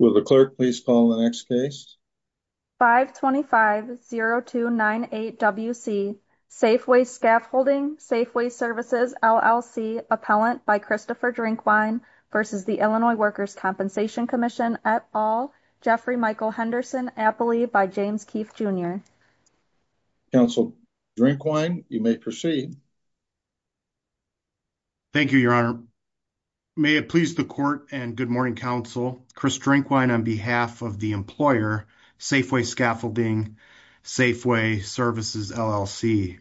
525-0298-WC, Safeway Scaffolding, Safeway Services, LLC, Appellant by Christopher Drinkwine v. Illinois Workers' Compensation Comm'n et al., Jeffrey Michael Henderson, Appley by James Keefe, Jr. Counsel Drinkwine, you may proceed. Thank you, Your Honor. Your Honor, may it please the Court and good morning, Counsel, Chris Drinkwine on behalf of the employer, Safeway Scaffolding, Safeway Services, LLC.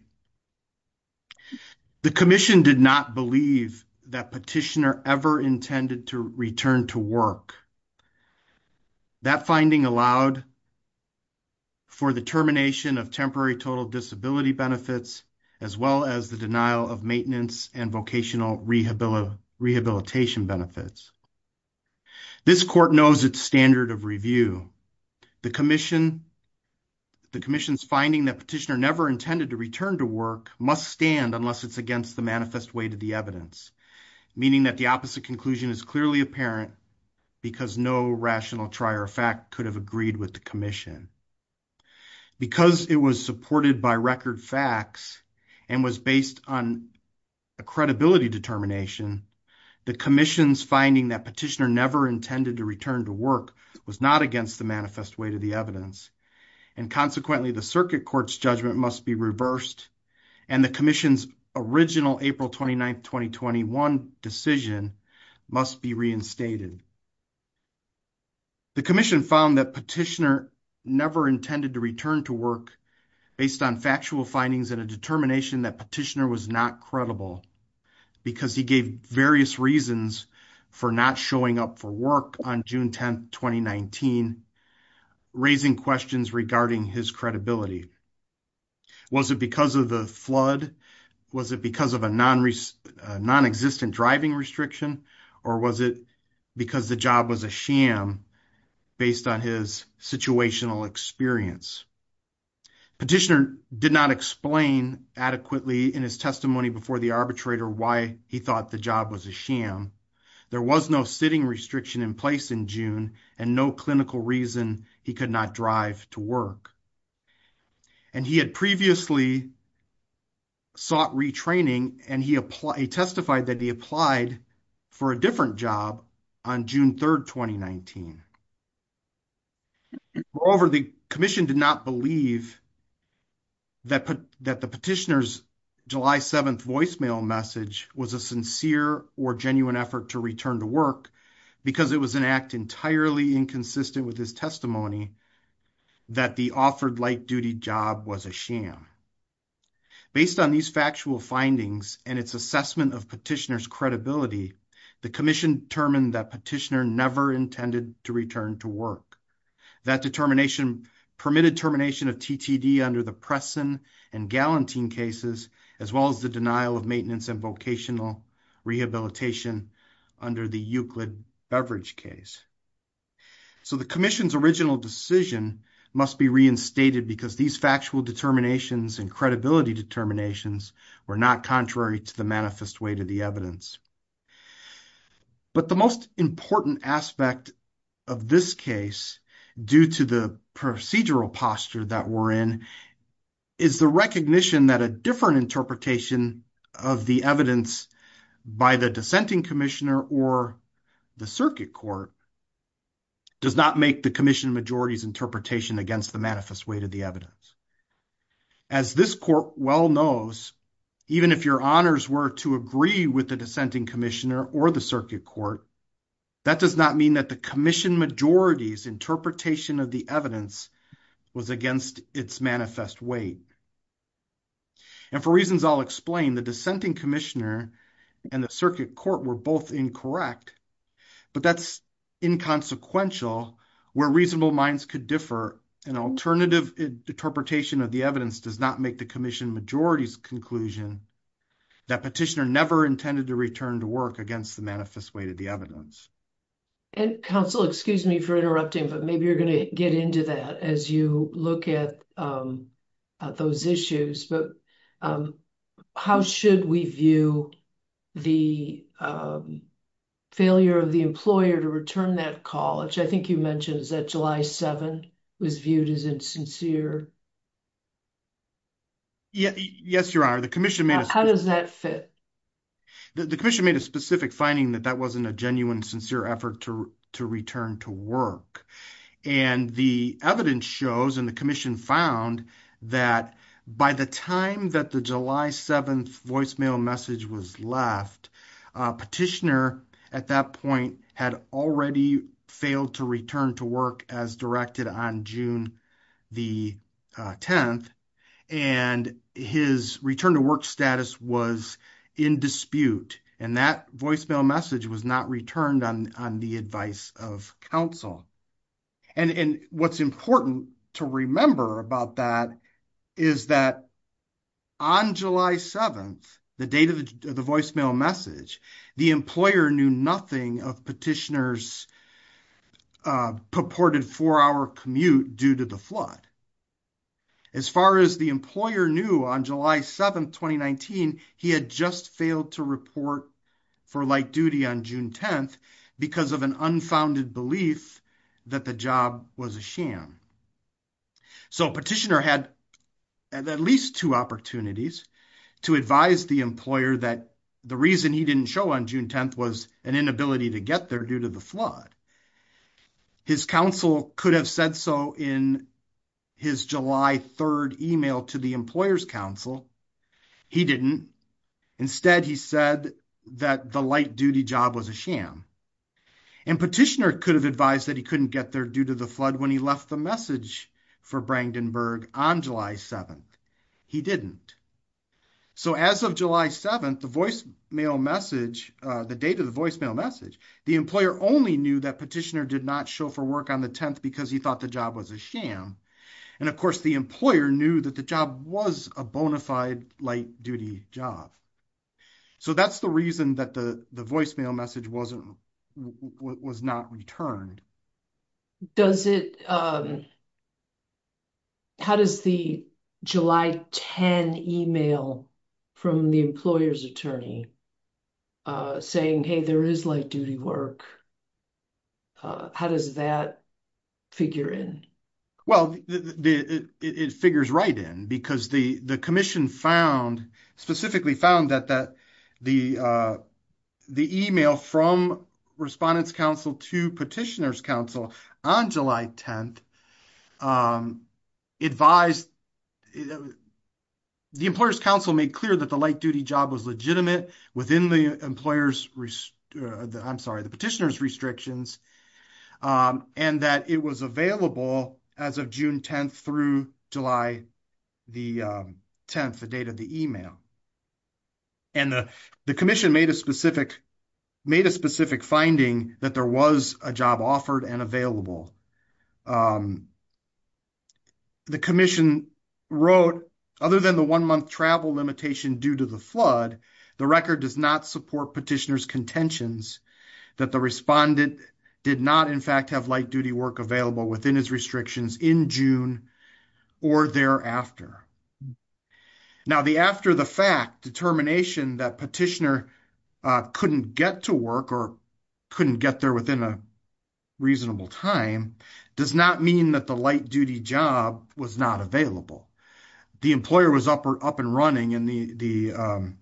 The Commission did not believe that petitioner ever intended to return to work. That finding allowed for the termination of temporary total disability benefits as well as the denial of maintenance and vocational rehabilitation benefits. This Court knows its standard of review. The Commission's finding that petitioner never intended to return to work must stand unless it's against the manifest way to the evidence, meaning that the opposite conclusion is clearly apparent because no rational trier of fact could have agreed with the Commission. Because it was supported by record facts and was based on a credibility determination, the Commission's finding that petitioner never intended to return to work was not against the manifest way to the evidence. And consequently, the Circuit Court's judgment must be reversed and the Commission's original April 29, 2021 decision must be reinstated. The Commission found that petitioner never intended to return to work based on factual findings and a determination that petitioner was not credible because he gave various reasons for not showing up for work on June 10, 2019, raising questions regarding his credibility. Was it because of the flood? Was it because of a non-existent driving restriction? Or was it because the job was a sham based on his situational experience? Petitioner did not explain adequately in his testimony before the arbitrator why he thought the job was a sham. There was no sitting restriction in place in June and no clinical reason he could not drive to work. And he had previously sought retraining and he testified that he applied for a different job on June 3, 2019. Moreover, the Commission did not believe that the petitioner's July 7th voicemail message was a sincere or genuine effort to return to work because it was an act entirely inconsistent with his testimony that the offered light-duty job was a sham. Based on these factual findings and its assessment of petitioner's credibility, the Commission determined that petitioner never intended to return to work. That determination permitted termination of TTD under the Preston and Gallantine cases as well as the denial of maintenance and vocational rehabilitation under the Euclid Beverage case. So, the Commission's original decision must be reinstated because these factual determinations and credibility determinations were not contrary to the manifest way to the evidence. But the most important aspect of this case due to the procedural posture that we're in is the recognition that a different interpretation of the evidence by the dissenting commissioner or the circuit court does not make the Commission Majority's interpretation against the manifest way to the evidence. As this court well knows, even if your honors were to agree with the dissenting commissioner or the circuit court, that does not mean that the Commission Majority's interpretation of the evidence was against its manifest way. And for reasons I'll explain, the dissenting commissioner and the circuit court were both incorrect, but that's inconsequential where reasonable minds could differ. An alternative interpretation of the evidence does not make the Commission Majority's conclusion that petitioner never intended to return to work against the manifest way to the evidence. And counsel, excuse me for interrupting, but maybe you're going to get into that as you look at those issues, but how should we view the failure of the employer to return that call, which I think you mentioned, is that July 7 was viewed as insincere? Yes, your honor, the commission made a specific finding that that wasn't a genuine, sincere effort to return to work. And the evidence shows and the commission found that by the time that the July 7th voicemail message was left, petitioner at that point had already failed to return to work as directed on June the 10th and his return to work status was in dispute. And that voicemail message was not returned on the advice of counsel. And what's important to remember about that is that on July 7th, the date of the voicemail message, the employer knew nothing of petitioner's purported four-hour commute due to the flood. As far as the employer knew on July 7th, 2019, he had just failed to report for light duty on June 10th because of an unfounded belief that the job was a sham. So petitioner had at least two opportunities to advise the employer that the reason he didn't show on June 10th was an inability to get there due to the flood. His counsel could have said so in his July 3rd email to the employer's counsel. He didn't. Instead, he said that the light duty job was a sham. And petitioner could have advised that he couldn't get there due to the flood when he left the message for Brandenburg on July 7th. He didn't. So as of July 7th, the voicemail message, the date of the voicemail message, the employer only knew that petitioner did not show for work on the 10th because he thought the job was a sham. And of course, the employer knew that the job was a bona fide light duty job. So that's the reason that the voicemail message wasn't, was not returned. Does it, how does the July 10 email from the employer's attorney saying, hey, there is light duty work. How does that figure in? Well, it figures right in because the commission found, specifically found that the email from respondent's counsel to petitioner's counsel on July 10th advised, the employer's counsel made clear that the light duty job was legitimate within the employer's, I'm sorry, the petitioner's restrictions and that it was available as of June 10th through July the 10th, the date of the email. And the commission made a specific, made a specific finding that there was a job offered and available. The commission wrote other than the one month travel limitation due to the flood, the record does not support petitioner's contentions that the respondent did not in fact have light duty work available within his restrictions in June or thereafter. Now the after the fact determination that petitioner couldn't get to work or couldn't get there within a reasonable time does not mean that the light duty job was not available. The employer was up and running and the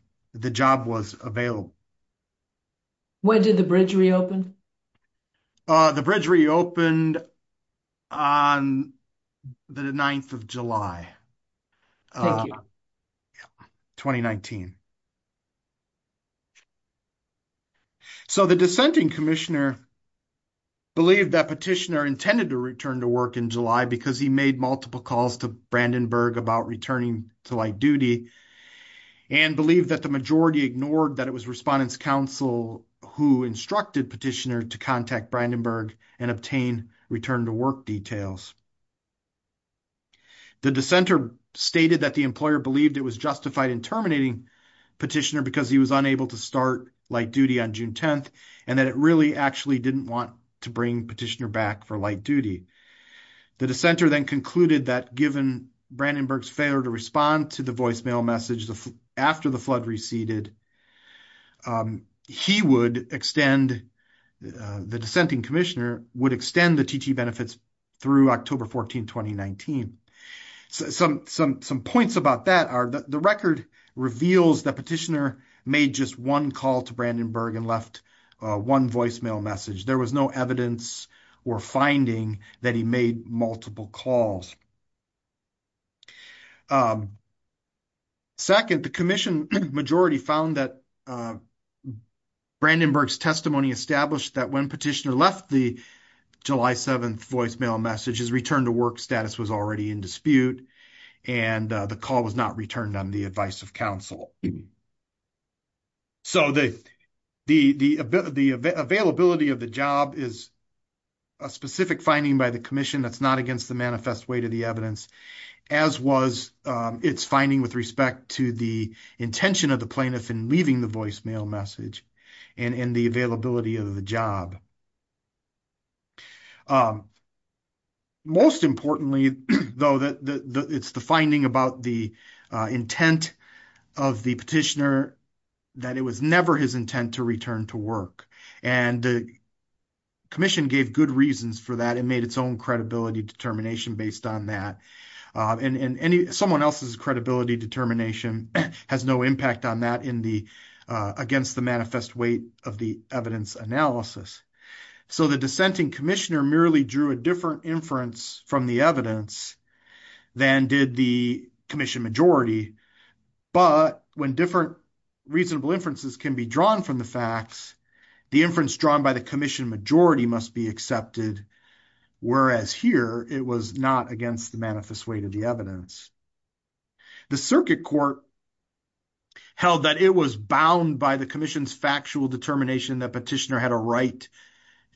job was available. When did the bridge reopened? The bridge reopened on the 9th of July, 2019. So, the dissenting commissioner believed that petitioner intended to return to work in July because he made multiple calls to Brandenburg about returning to light duty and believed that the majority ignored that it was respondent's counsel who instructed petitioner to contact Brandenburg and obtain return to work details. The dissenter stated that the employer believed it was justified in terminating petitioner because he was unable to start light duty on June 10th and that it really actually didn't want to bring petitioner back for light duty. The dissenter then concluded that given Brandenburg's failure to respond to the voicemail message after the flood receded, he would extend, the dissenting commissioner would extend the benefits through October 14, 2019. Some points about that are the record reveals that petitioner made just one call to Brandenburg and left one voicemail message. There was no evidence or finding that he made multiple calls. Second, the commission majority found that Brandenburg's testimony established that when the petitioner left the July 7th voicemail message, his return to work status was already in dispute and the call was not returned on the advice of counsel. So the availability of the job is a specific finding by the commission that's not against the manifest weight of the evidence as was its finding with respect to the intention of the plaintiff in leaving the voicemail message and the availability of the job. Most importantly though, it's the finding about the intent of the petitioner that it was never his intent to return to work and the commission gave good reasons for that and made its own credibility determination based on that. Someone else's credibility determination has no impact on that against the manifest weight of the evidence analysis. So the dissenting commissioner merely drew a different inference from the evidence than did the commission majority, but when different reasonable inferences can be drawn from the facts, the inference drawn by the commission majority must be accepted, whereas here it was not against the manifest weight of the evidence. The circuit court held that it was bound by the commission's factual determination that petitioner had a right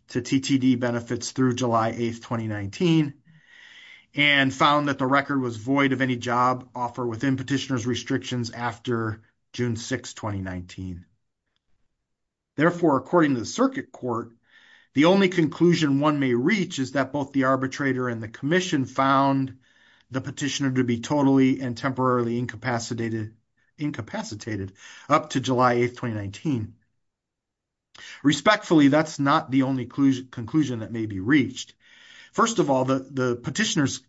to TTD benefits through July 8th, 2019 and found that the record was void of any job offer within petitioner's restrictions after June 6th, 2019. Therefore, according to the circuit court, the only conclusion one may reach is that both the arbitrator and the commission found the petitioner to be totally and temporarily incapacitated up to July 8th, 2019. Respectfully, that's not the only conclusion that may be reached. First of all, the petitioner's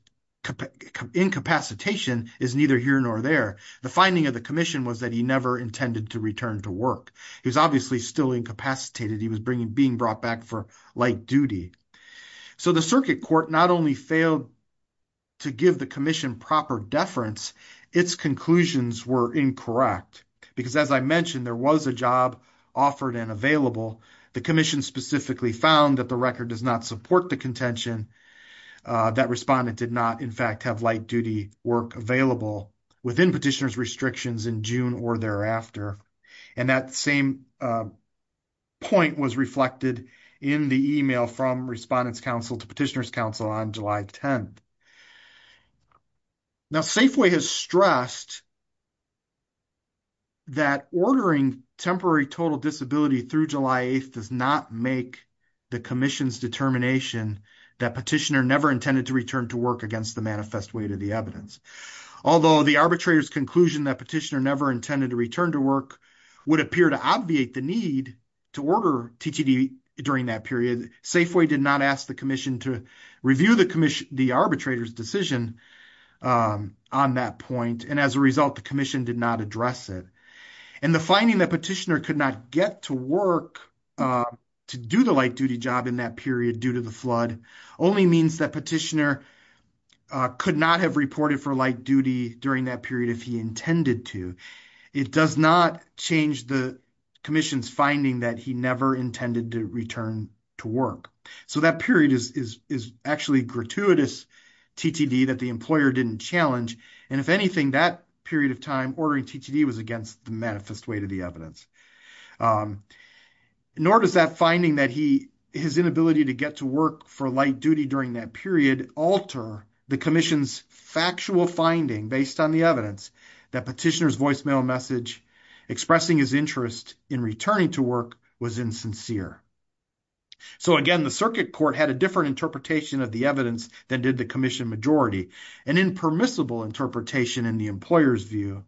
incapacitation is neither here nor there. The finding of the commission was that he never intended to return to work. He was obviously still incapacitated. He was being brought back for light duty. So, the circuit court not only failed to give the commission proper deference, its conclusions were incorrect because as I mentioned, there was a job offered and available. The commission specifically found that the record does not support the contention that respondent did not, in fact, have light duty work available within petitioner's restrictions in June or thereafter. And that same point was reflected in the email from Respondent's Counsel to Petitioner's Counsel on July 10th. Now, Safeway has stressed that ordering temporary total disability through July 8th does not make the commission's determination that petitioner never intended to return to work against the manifest weight of the evidence. Although the arbitrator's conclusion that petitioner never intended to return to work would appear to obviate the need to order TTD during that period, Safeway did not ask the commission to review the arbitrator's decision on that point. And as a result, the commission did not address it. And the finding that petitioner could not get to work to do the light duty job in that period due to the flood only means that petitioner could not have reported for light duty during that period if he intended to. It does not change the commission's finding that he never intended to return to work. So that period is actually gratuitous TTD that the employer didn't challenge. And if anything, that period of time ordering TTD was against the manifest weight of the to get to work for light duty during that period alter the commission's factual finding based on the evidence that petitioner's voicemail message expressing his interest in returning to work was insincere. So again, the circuit court had a different interpretation of the evidence than did the commission majority, an impermissible interpretation in the employer's view.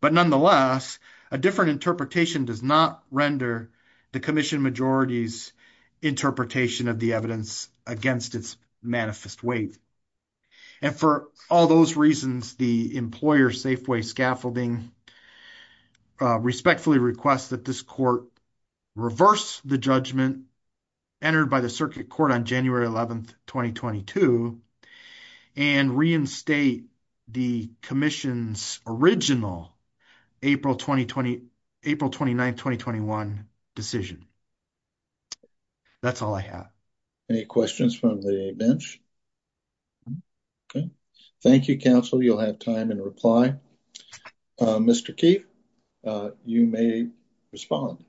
But nonetheless, a different interpretation does not render the commission majority's interpretation of the evidence against its manifest weight. And for all those reasons, the employer Safeway Scaffolding respectfully requests that this court reverse the judgment entered by the circuit court on January 11th, 2022, and reinstate the commission's original April 20, 20, April 29, 2021 decision. That's all I have. Any questions from the bench? Thank you, counsel. You'll have time and reply. Mr. Keefe, you may respond.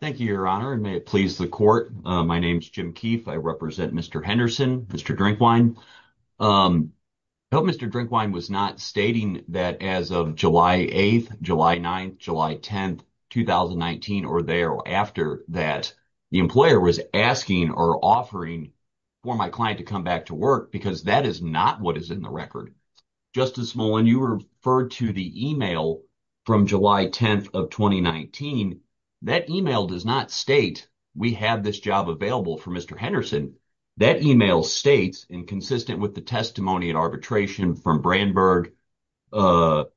Thank you, Your Honor. And may it please the court. My name is Jim Keefe. I represent Mr. Henderson, Mr. Drinkwine. I hope Mr. Drinkwine was not stating that as of July 8th, July 9th, July 10th, 2019, or thereafter that the employer was asking or offering for my client to come back to work because that is not what is in the record. Justice Mullen, you referred to the email from July 10th of 2019. That email does not state we have this job available for Mr. Henderson. That email states, and consistent with the testimony and arbitration from Brandberg, that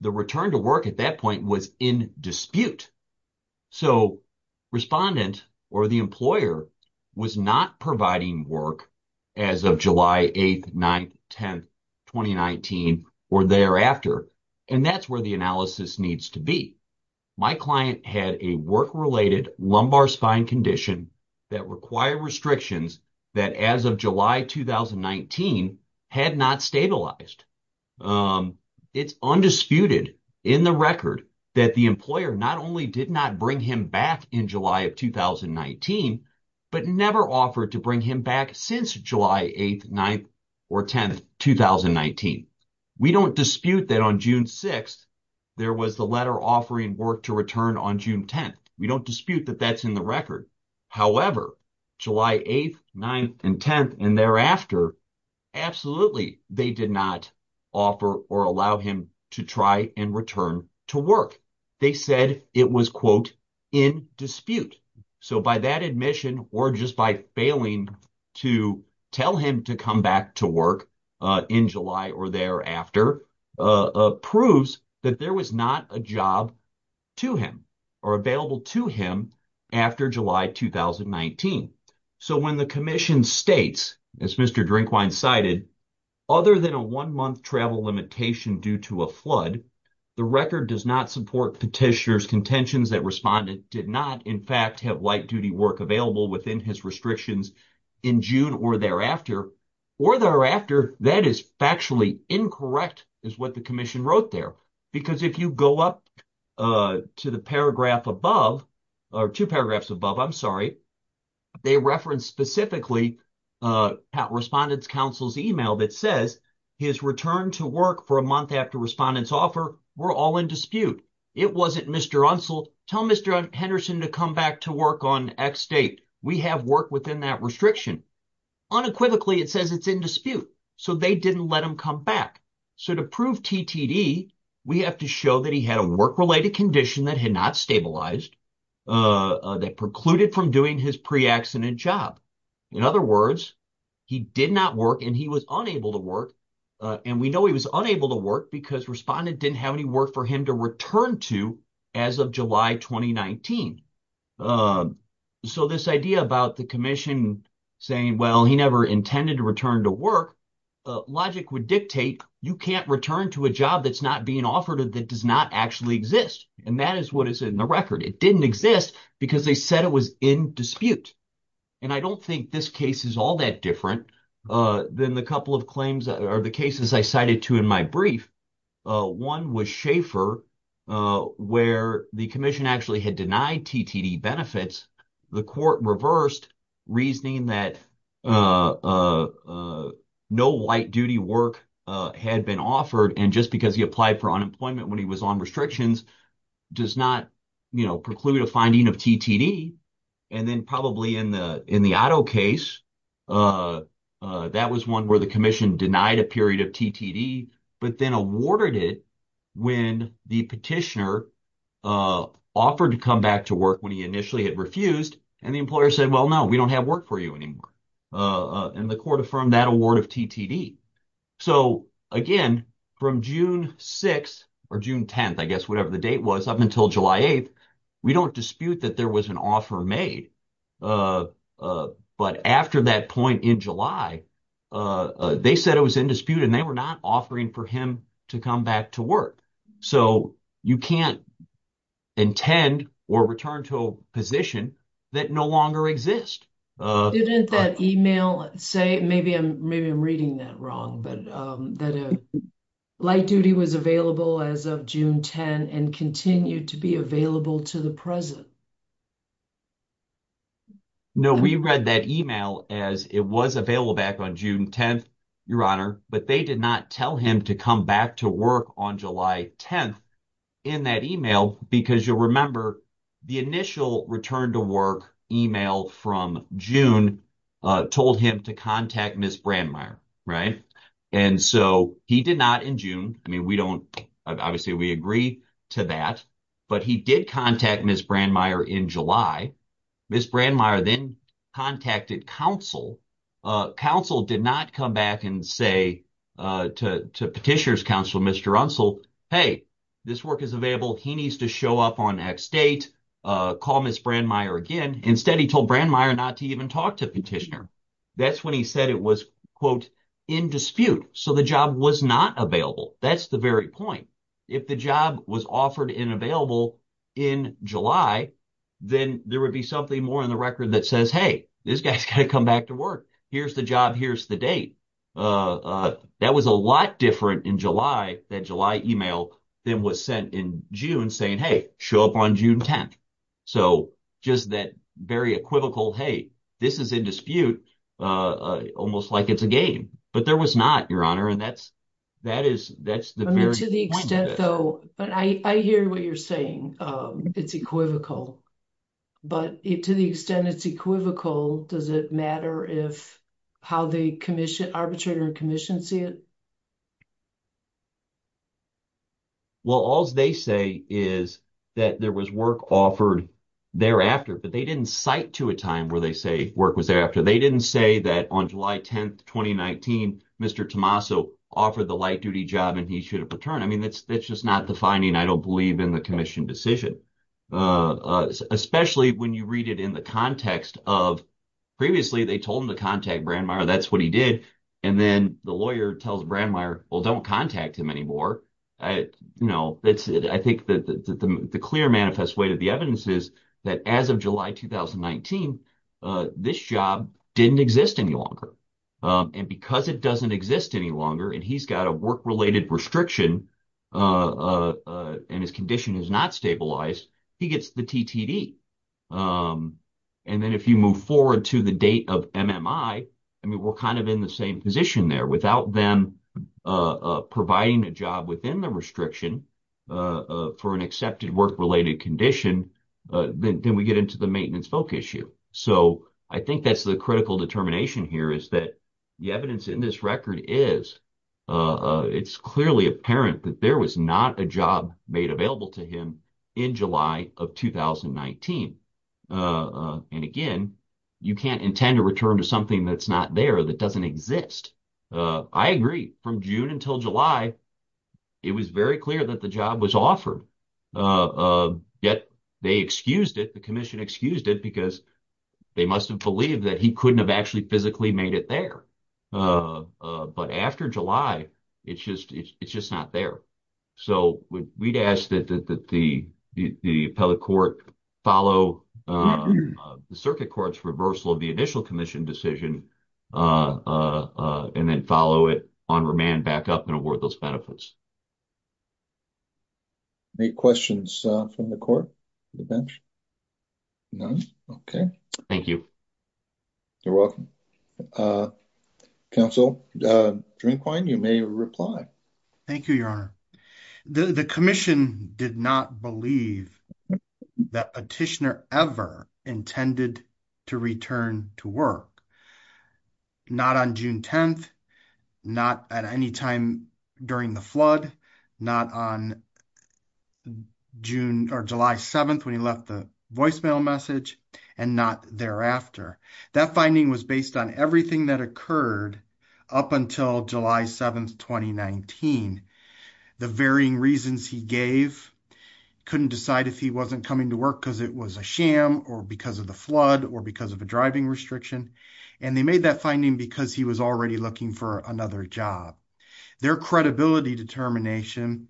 the return to work at that point was in dispute. So respondent or the employer was not providing work as of July 8th, 9th, 10th, 2019, or thereafter. And that's where the analysis needs to be. My client had a work-related lumbar spine condition that required restrictions that as of July 2019 had not stabilized. It's undisputed in the record that the employer not only did not bring him back in July of 2019, but never offered to bring him back since July 8th, 9th, or 10th, 2019. We don't dispute that on June 6th, there was the letter offering work to return on June 10th. We don't dispute that that's in the record. However, July 8th, 9th, and 10th, and thereafter, absolutely they did not offer or allow him to try and return to work. They said it was, quote, in dispute. So by that admission, or just by failing to tell him to come back to work in July or thereafter, proves that there was not a job to him or available to him after July 2019. So when the commission states, as Mr. Drinkwine cited, other than a one-month travel limitation due to a flood, the record does not support petitioner's contentions that respondent did not, in fact, have light-duty work available within his restrictions in June or thereafter. Or thereafter, that is factually incorrect, is what the commission wrote there. Because if you go up to the paragraph above, or two paragraphs above, I'm sorry, they referenced specifically Respondent's Counsel's email that says his return to work for a month after Respondent's offer were all in dispute. It wasn't, Mr. Unsell, tell Mr. Henderson to come back to work on X date. We have work within that restriction. Unequivocally, it says it's in dispute. So they didn't let him come back. So to prove TTD, we have to show that he had a work-related condition that had not stabilized, that precluded from doing his pre-accident job. In other words, he did not work, and he was unable to work, and we know he was unable to work because Respondent didn't have any work for him to return to as of July 2019. So this idea about the commission saying, well, he never intended to return to work, logic would dictate you can't return to a job that's not being offered, that does not actually exist. And that is what is in the record. It didn't exist because they said it was in dispute. And I don't think this case is all that different than the couple of claims, or the cases I cited to in my brief. One was Schaeffer, where the commission actually had denied TTD benefits. The court reversed, reasoning that no light-duty work had been offered, and just because he applied for unemployment when he was on restrictions does not preclude a finding of TTD. And then probably in the Otto case, that was one where the commission denied a period of TTD, but then awarded it when the petitioner offered to come back to work when he initially had refused, and the employer said, well, no, we don't have work for you anymore. And the court affirmed that award of TTD. So again, from June 6th, or June 10th, I guess, whatever the date was, up until July 8th, we don't dispute that there was an offer made. But after that point in July, they said it was in dispute, and they were not offering for him to come back to work. So you can't intend or return to a position that no longer exists. Didn't that email say, maybe I'm reading that wrong, but that light-duty was available as of June 10, and continued to be available to the present? No, we read that email as it was available back on June 10th, Your Honor, but they did not tell him to come back to work on July 10th in that email, because you'll remember, the initial return to work email from June told him to contact Ms. Brandmeier, right? And so he did not in June, I mean, we don't, obviously we agree to that, but he did contact Ms. Brandmeier in July. Ms. Brandmeier then contacted counsel. Counsel did not come back and say to Petitioner's counsel, Mr. Runcell, hey, this work is available, he needs to show up on X date, call Ms. Brandmeier again, instead he told Brandmeier not to even talk to Petitioner. That's when he said it was, quote, in dispute. So the job was not available, that's the very point. If the job was offered and available in July, then there would be something more in the record that says, hey, this guy's got to come back to work. Here's the job, here's the date. That was a lot different in July, that July email, than was sent in June saying, hey, show up on June 10th. So just that very equivocal, hey, this is in dispute, almost like it's a game. But there was not, Your Honor, and that's, that is, that's the very point. I hear what you're saying, it's equivocal. But to the extent it's equivocal, does it matter if, how the arbitrator and commission see it? Well, all they say is that there was work offered thereafter, but they didn't cite to a time where they say work was thereafter. They didn't say that on July 10th, 2019, Mr. Tommaso offered the light duty job and he should have returned. I mean, that's, that's just not the finding. I don't believe in the commission decision, especially when you read it in the context of, previously they told him to contact Brandmeier, that's what he did. And then the lawyer tells Brandmeier, well, don't contact him anymore. I, you know, it's, I think that the clear manifest way to the evidence is that as of July, 2019, this job didn't exist any longer. And because it doesn't exist any longer and he's got a work-related restriction and his condition is not stabilized, he gets the TTD. And then if you move forward to the date of MMI, I mean, we're kind of in the same position there. Without them providing a job within the restriction for an accepted work-related condition, then we get into the maintenance folk issue. So I think that's the critical determination here is that the evidence in this record is, it's clearly apparent that there was not a job made available to him in July of 2019. And again, you can't intend to return to something that's not there, that doesn't exist. I agree from June until July, it was very clear that the job was offered. Yet they excused it, the commission excused it because they must've believed that he couldn't have actually physically made it there. But after July, it's just, it's just not there. So we'd ask that the appellate court follow the circuit court's reversal of the initial commission decision and then follow it on remand back up and award those benefits. Any questions from the court, the bench? None? Okay. Thank you. You're welcome. Counsel Drinkwine, you may reply. Thank you, Your Honor. The commission did not believe that a petitioner ever intended to return to work. Not on June 10th, not at any time during the flood, not on June or July 7th when he left the voicemail message, and not thereafter. That finding was based on everything that occurred up until July 7th, 2019. The varying reasons he gave, couldn't decide if he wasn't coming to work because it was a sham or because of the flood or because of a driving restriction. And they made that finding because he was already looking for another job. Their credibility determination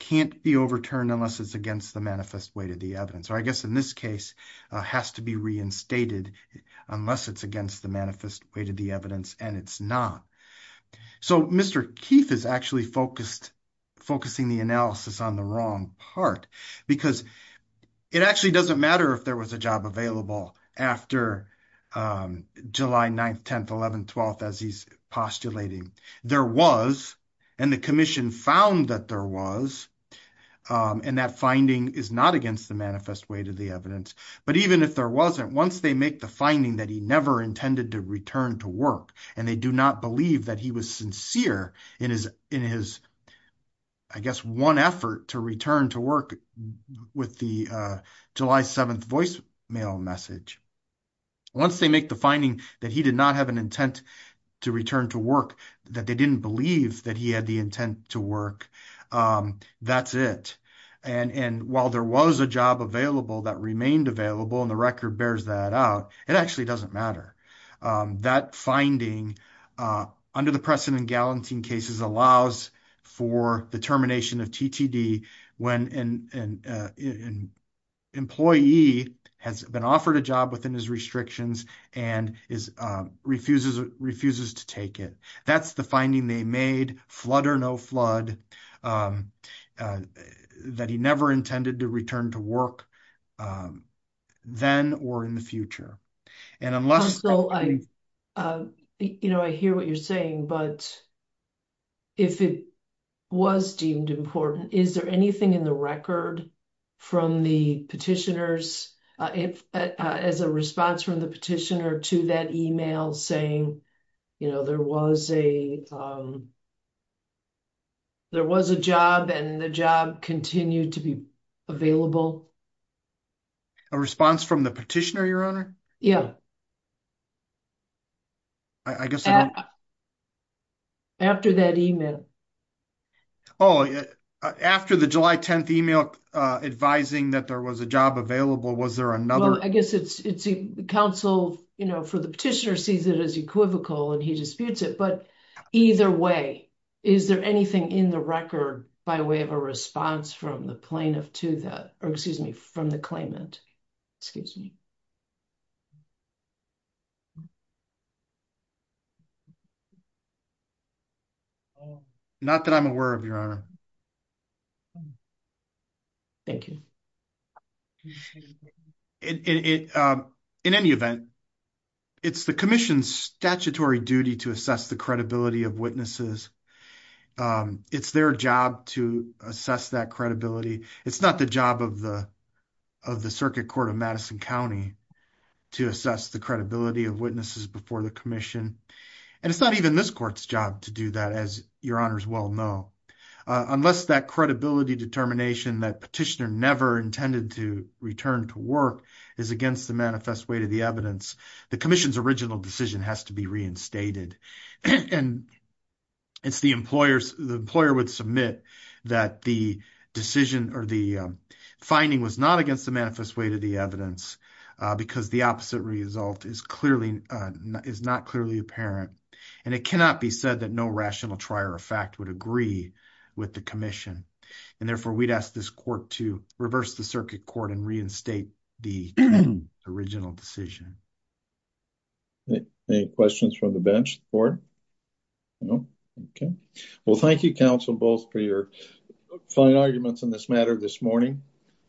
can't be overturned unless it's against the manifest way to the evidence. Or I guess in this case, has to be reinstated unless it's against the manifest way to the evidence and it's not. So Mr. Keith is actually focused, focusing the analysis on the wrong part because it actually doesn't matter if there was a job available after July 9th, 10th, 11th, 12th as he's postulating. There was, and the commission found that there was, and that finding is not against the manifest way to the evidence. But even if there wasn't, once they make the finding that he never intended to return to work and they do not believe that he was sincere in his, in his, I guess, one effort to return to work with the July 7th voicemail message. Once they make the finding that he did not have an intent to return to work, that they didn't believe that he had the intent to work, that's it. And while there was a job available that remained available and the record bears that out, it actually doesn't matter. That finding under the precedent in Gallantine cases allows for the termination of TTD when an employee has been offered a job within his restrictions and is, refuses, refuses to take it. That's the finding they made, flood or no flood, that he never intended to return to work then or in the future. And unless... Counsel, I, you know, I hear what you're saying, but if it was deemed important, is there anything in the record from the petitioners, if, as a response from the petitioner to that email saying, you know, there was a, there was a job and the job continued to be available? A response from the petitioner, Your Honor? I guess I don't... After that email. Oh, after the July 10th email advising that there was a job available, was there another? Well, I guess it's, it's counsel, you know, for the petitioner sees it as equivocal and he disputes it. But either way, is there anything in the record by way of a response from the plaintiff to that, or excuse me, from the claimant? Excuse me. Not that I'm aware of, Your Honor. Thank you. In any event, it's the commission's statutory duty to assess the credibility of witnesses. It's their job to assess that credibility. It's not the job of the, of the Circuit Court of Madison County to assess the credibility of witnesses before the commission. And it's not even this court's job to do that, as Your Honors well know. Unless that credibility determination that petitioner never intended to return to work is against the manifest way to the evidence, the commission's original decision has to be reinstated. And it's the employer's, the employer would submit that the decision or the finding was not against the manifest way to the evidence because the opposite result is clearly, is not clearly apparent. And it cannot be said that no rational trier of fact would agree with the commission. And therefore, we'd ask this court to reverse the circuit court and reinstate the original decision. Any questions from the bench? No? Okay. Well, thank you, counsel, both for your fine arguments on this matter this morning.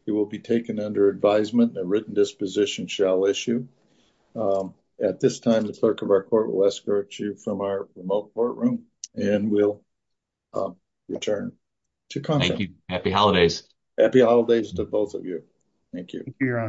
You will be taken under advisement. A written disposition shall issue. At this time, the clerk of our court will escort you from our remote courtroom, and we'll return to content. Thank you. Happy holidays. Happy holidays to both of you. Thank you. Thank you, Your Honor.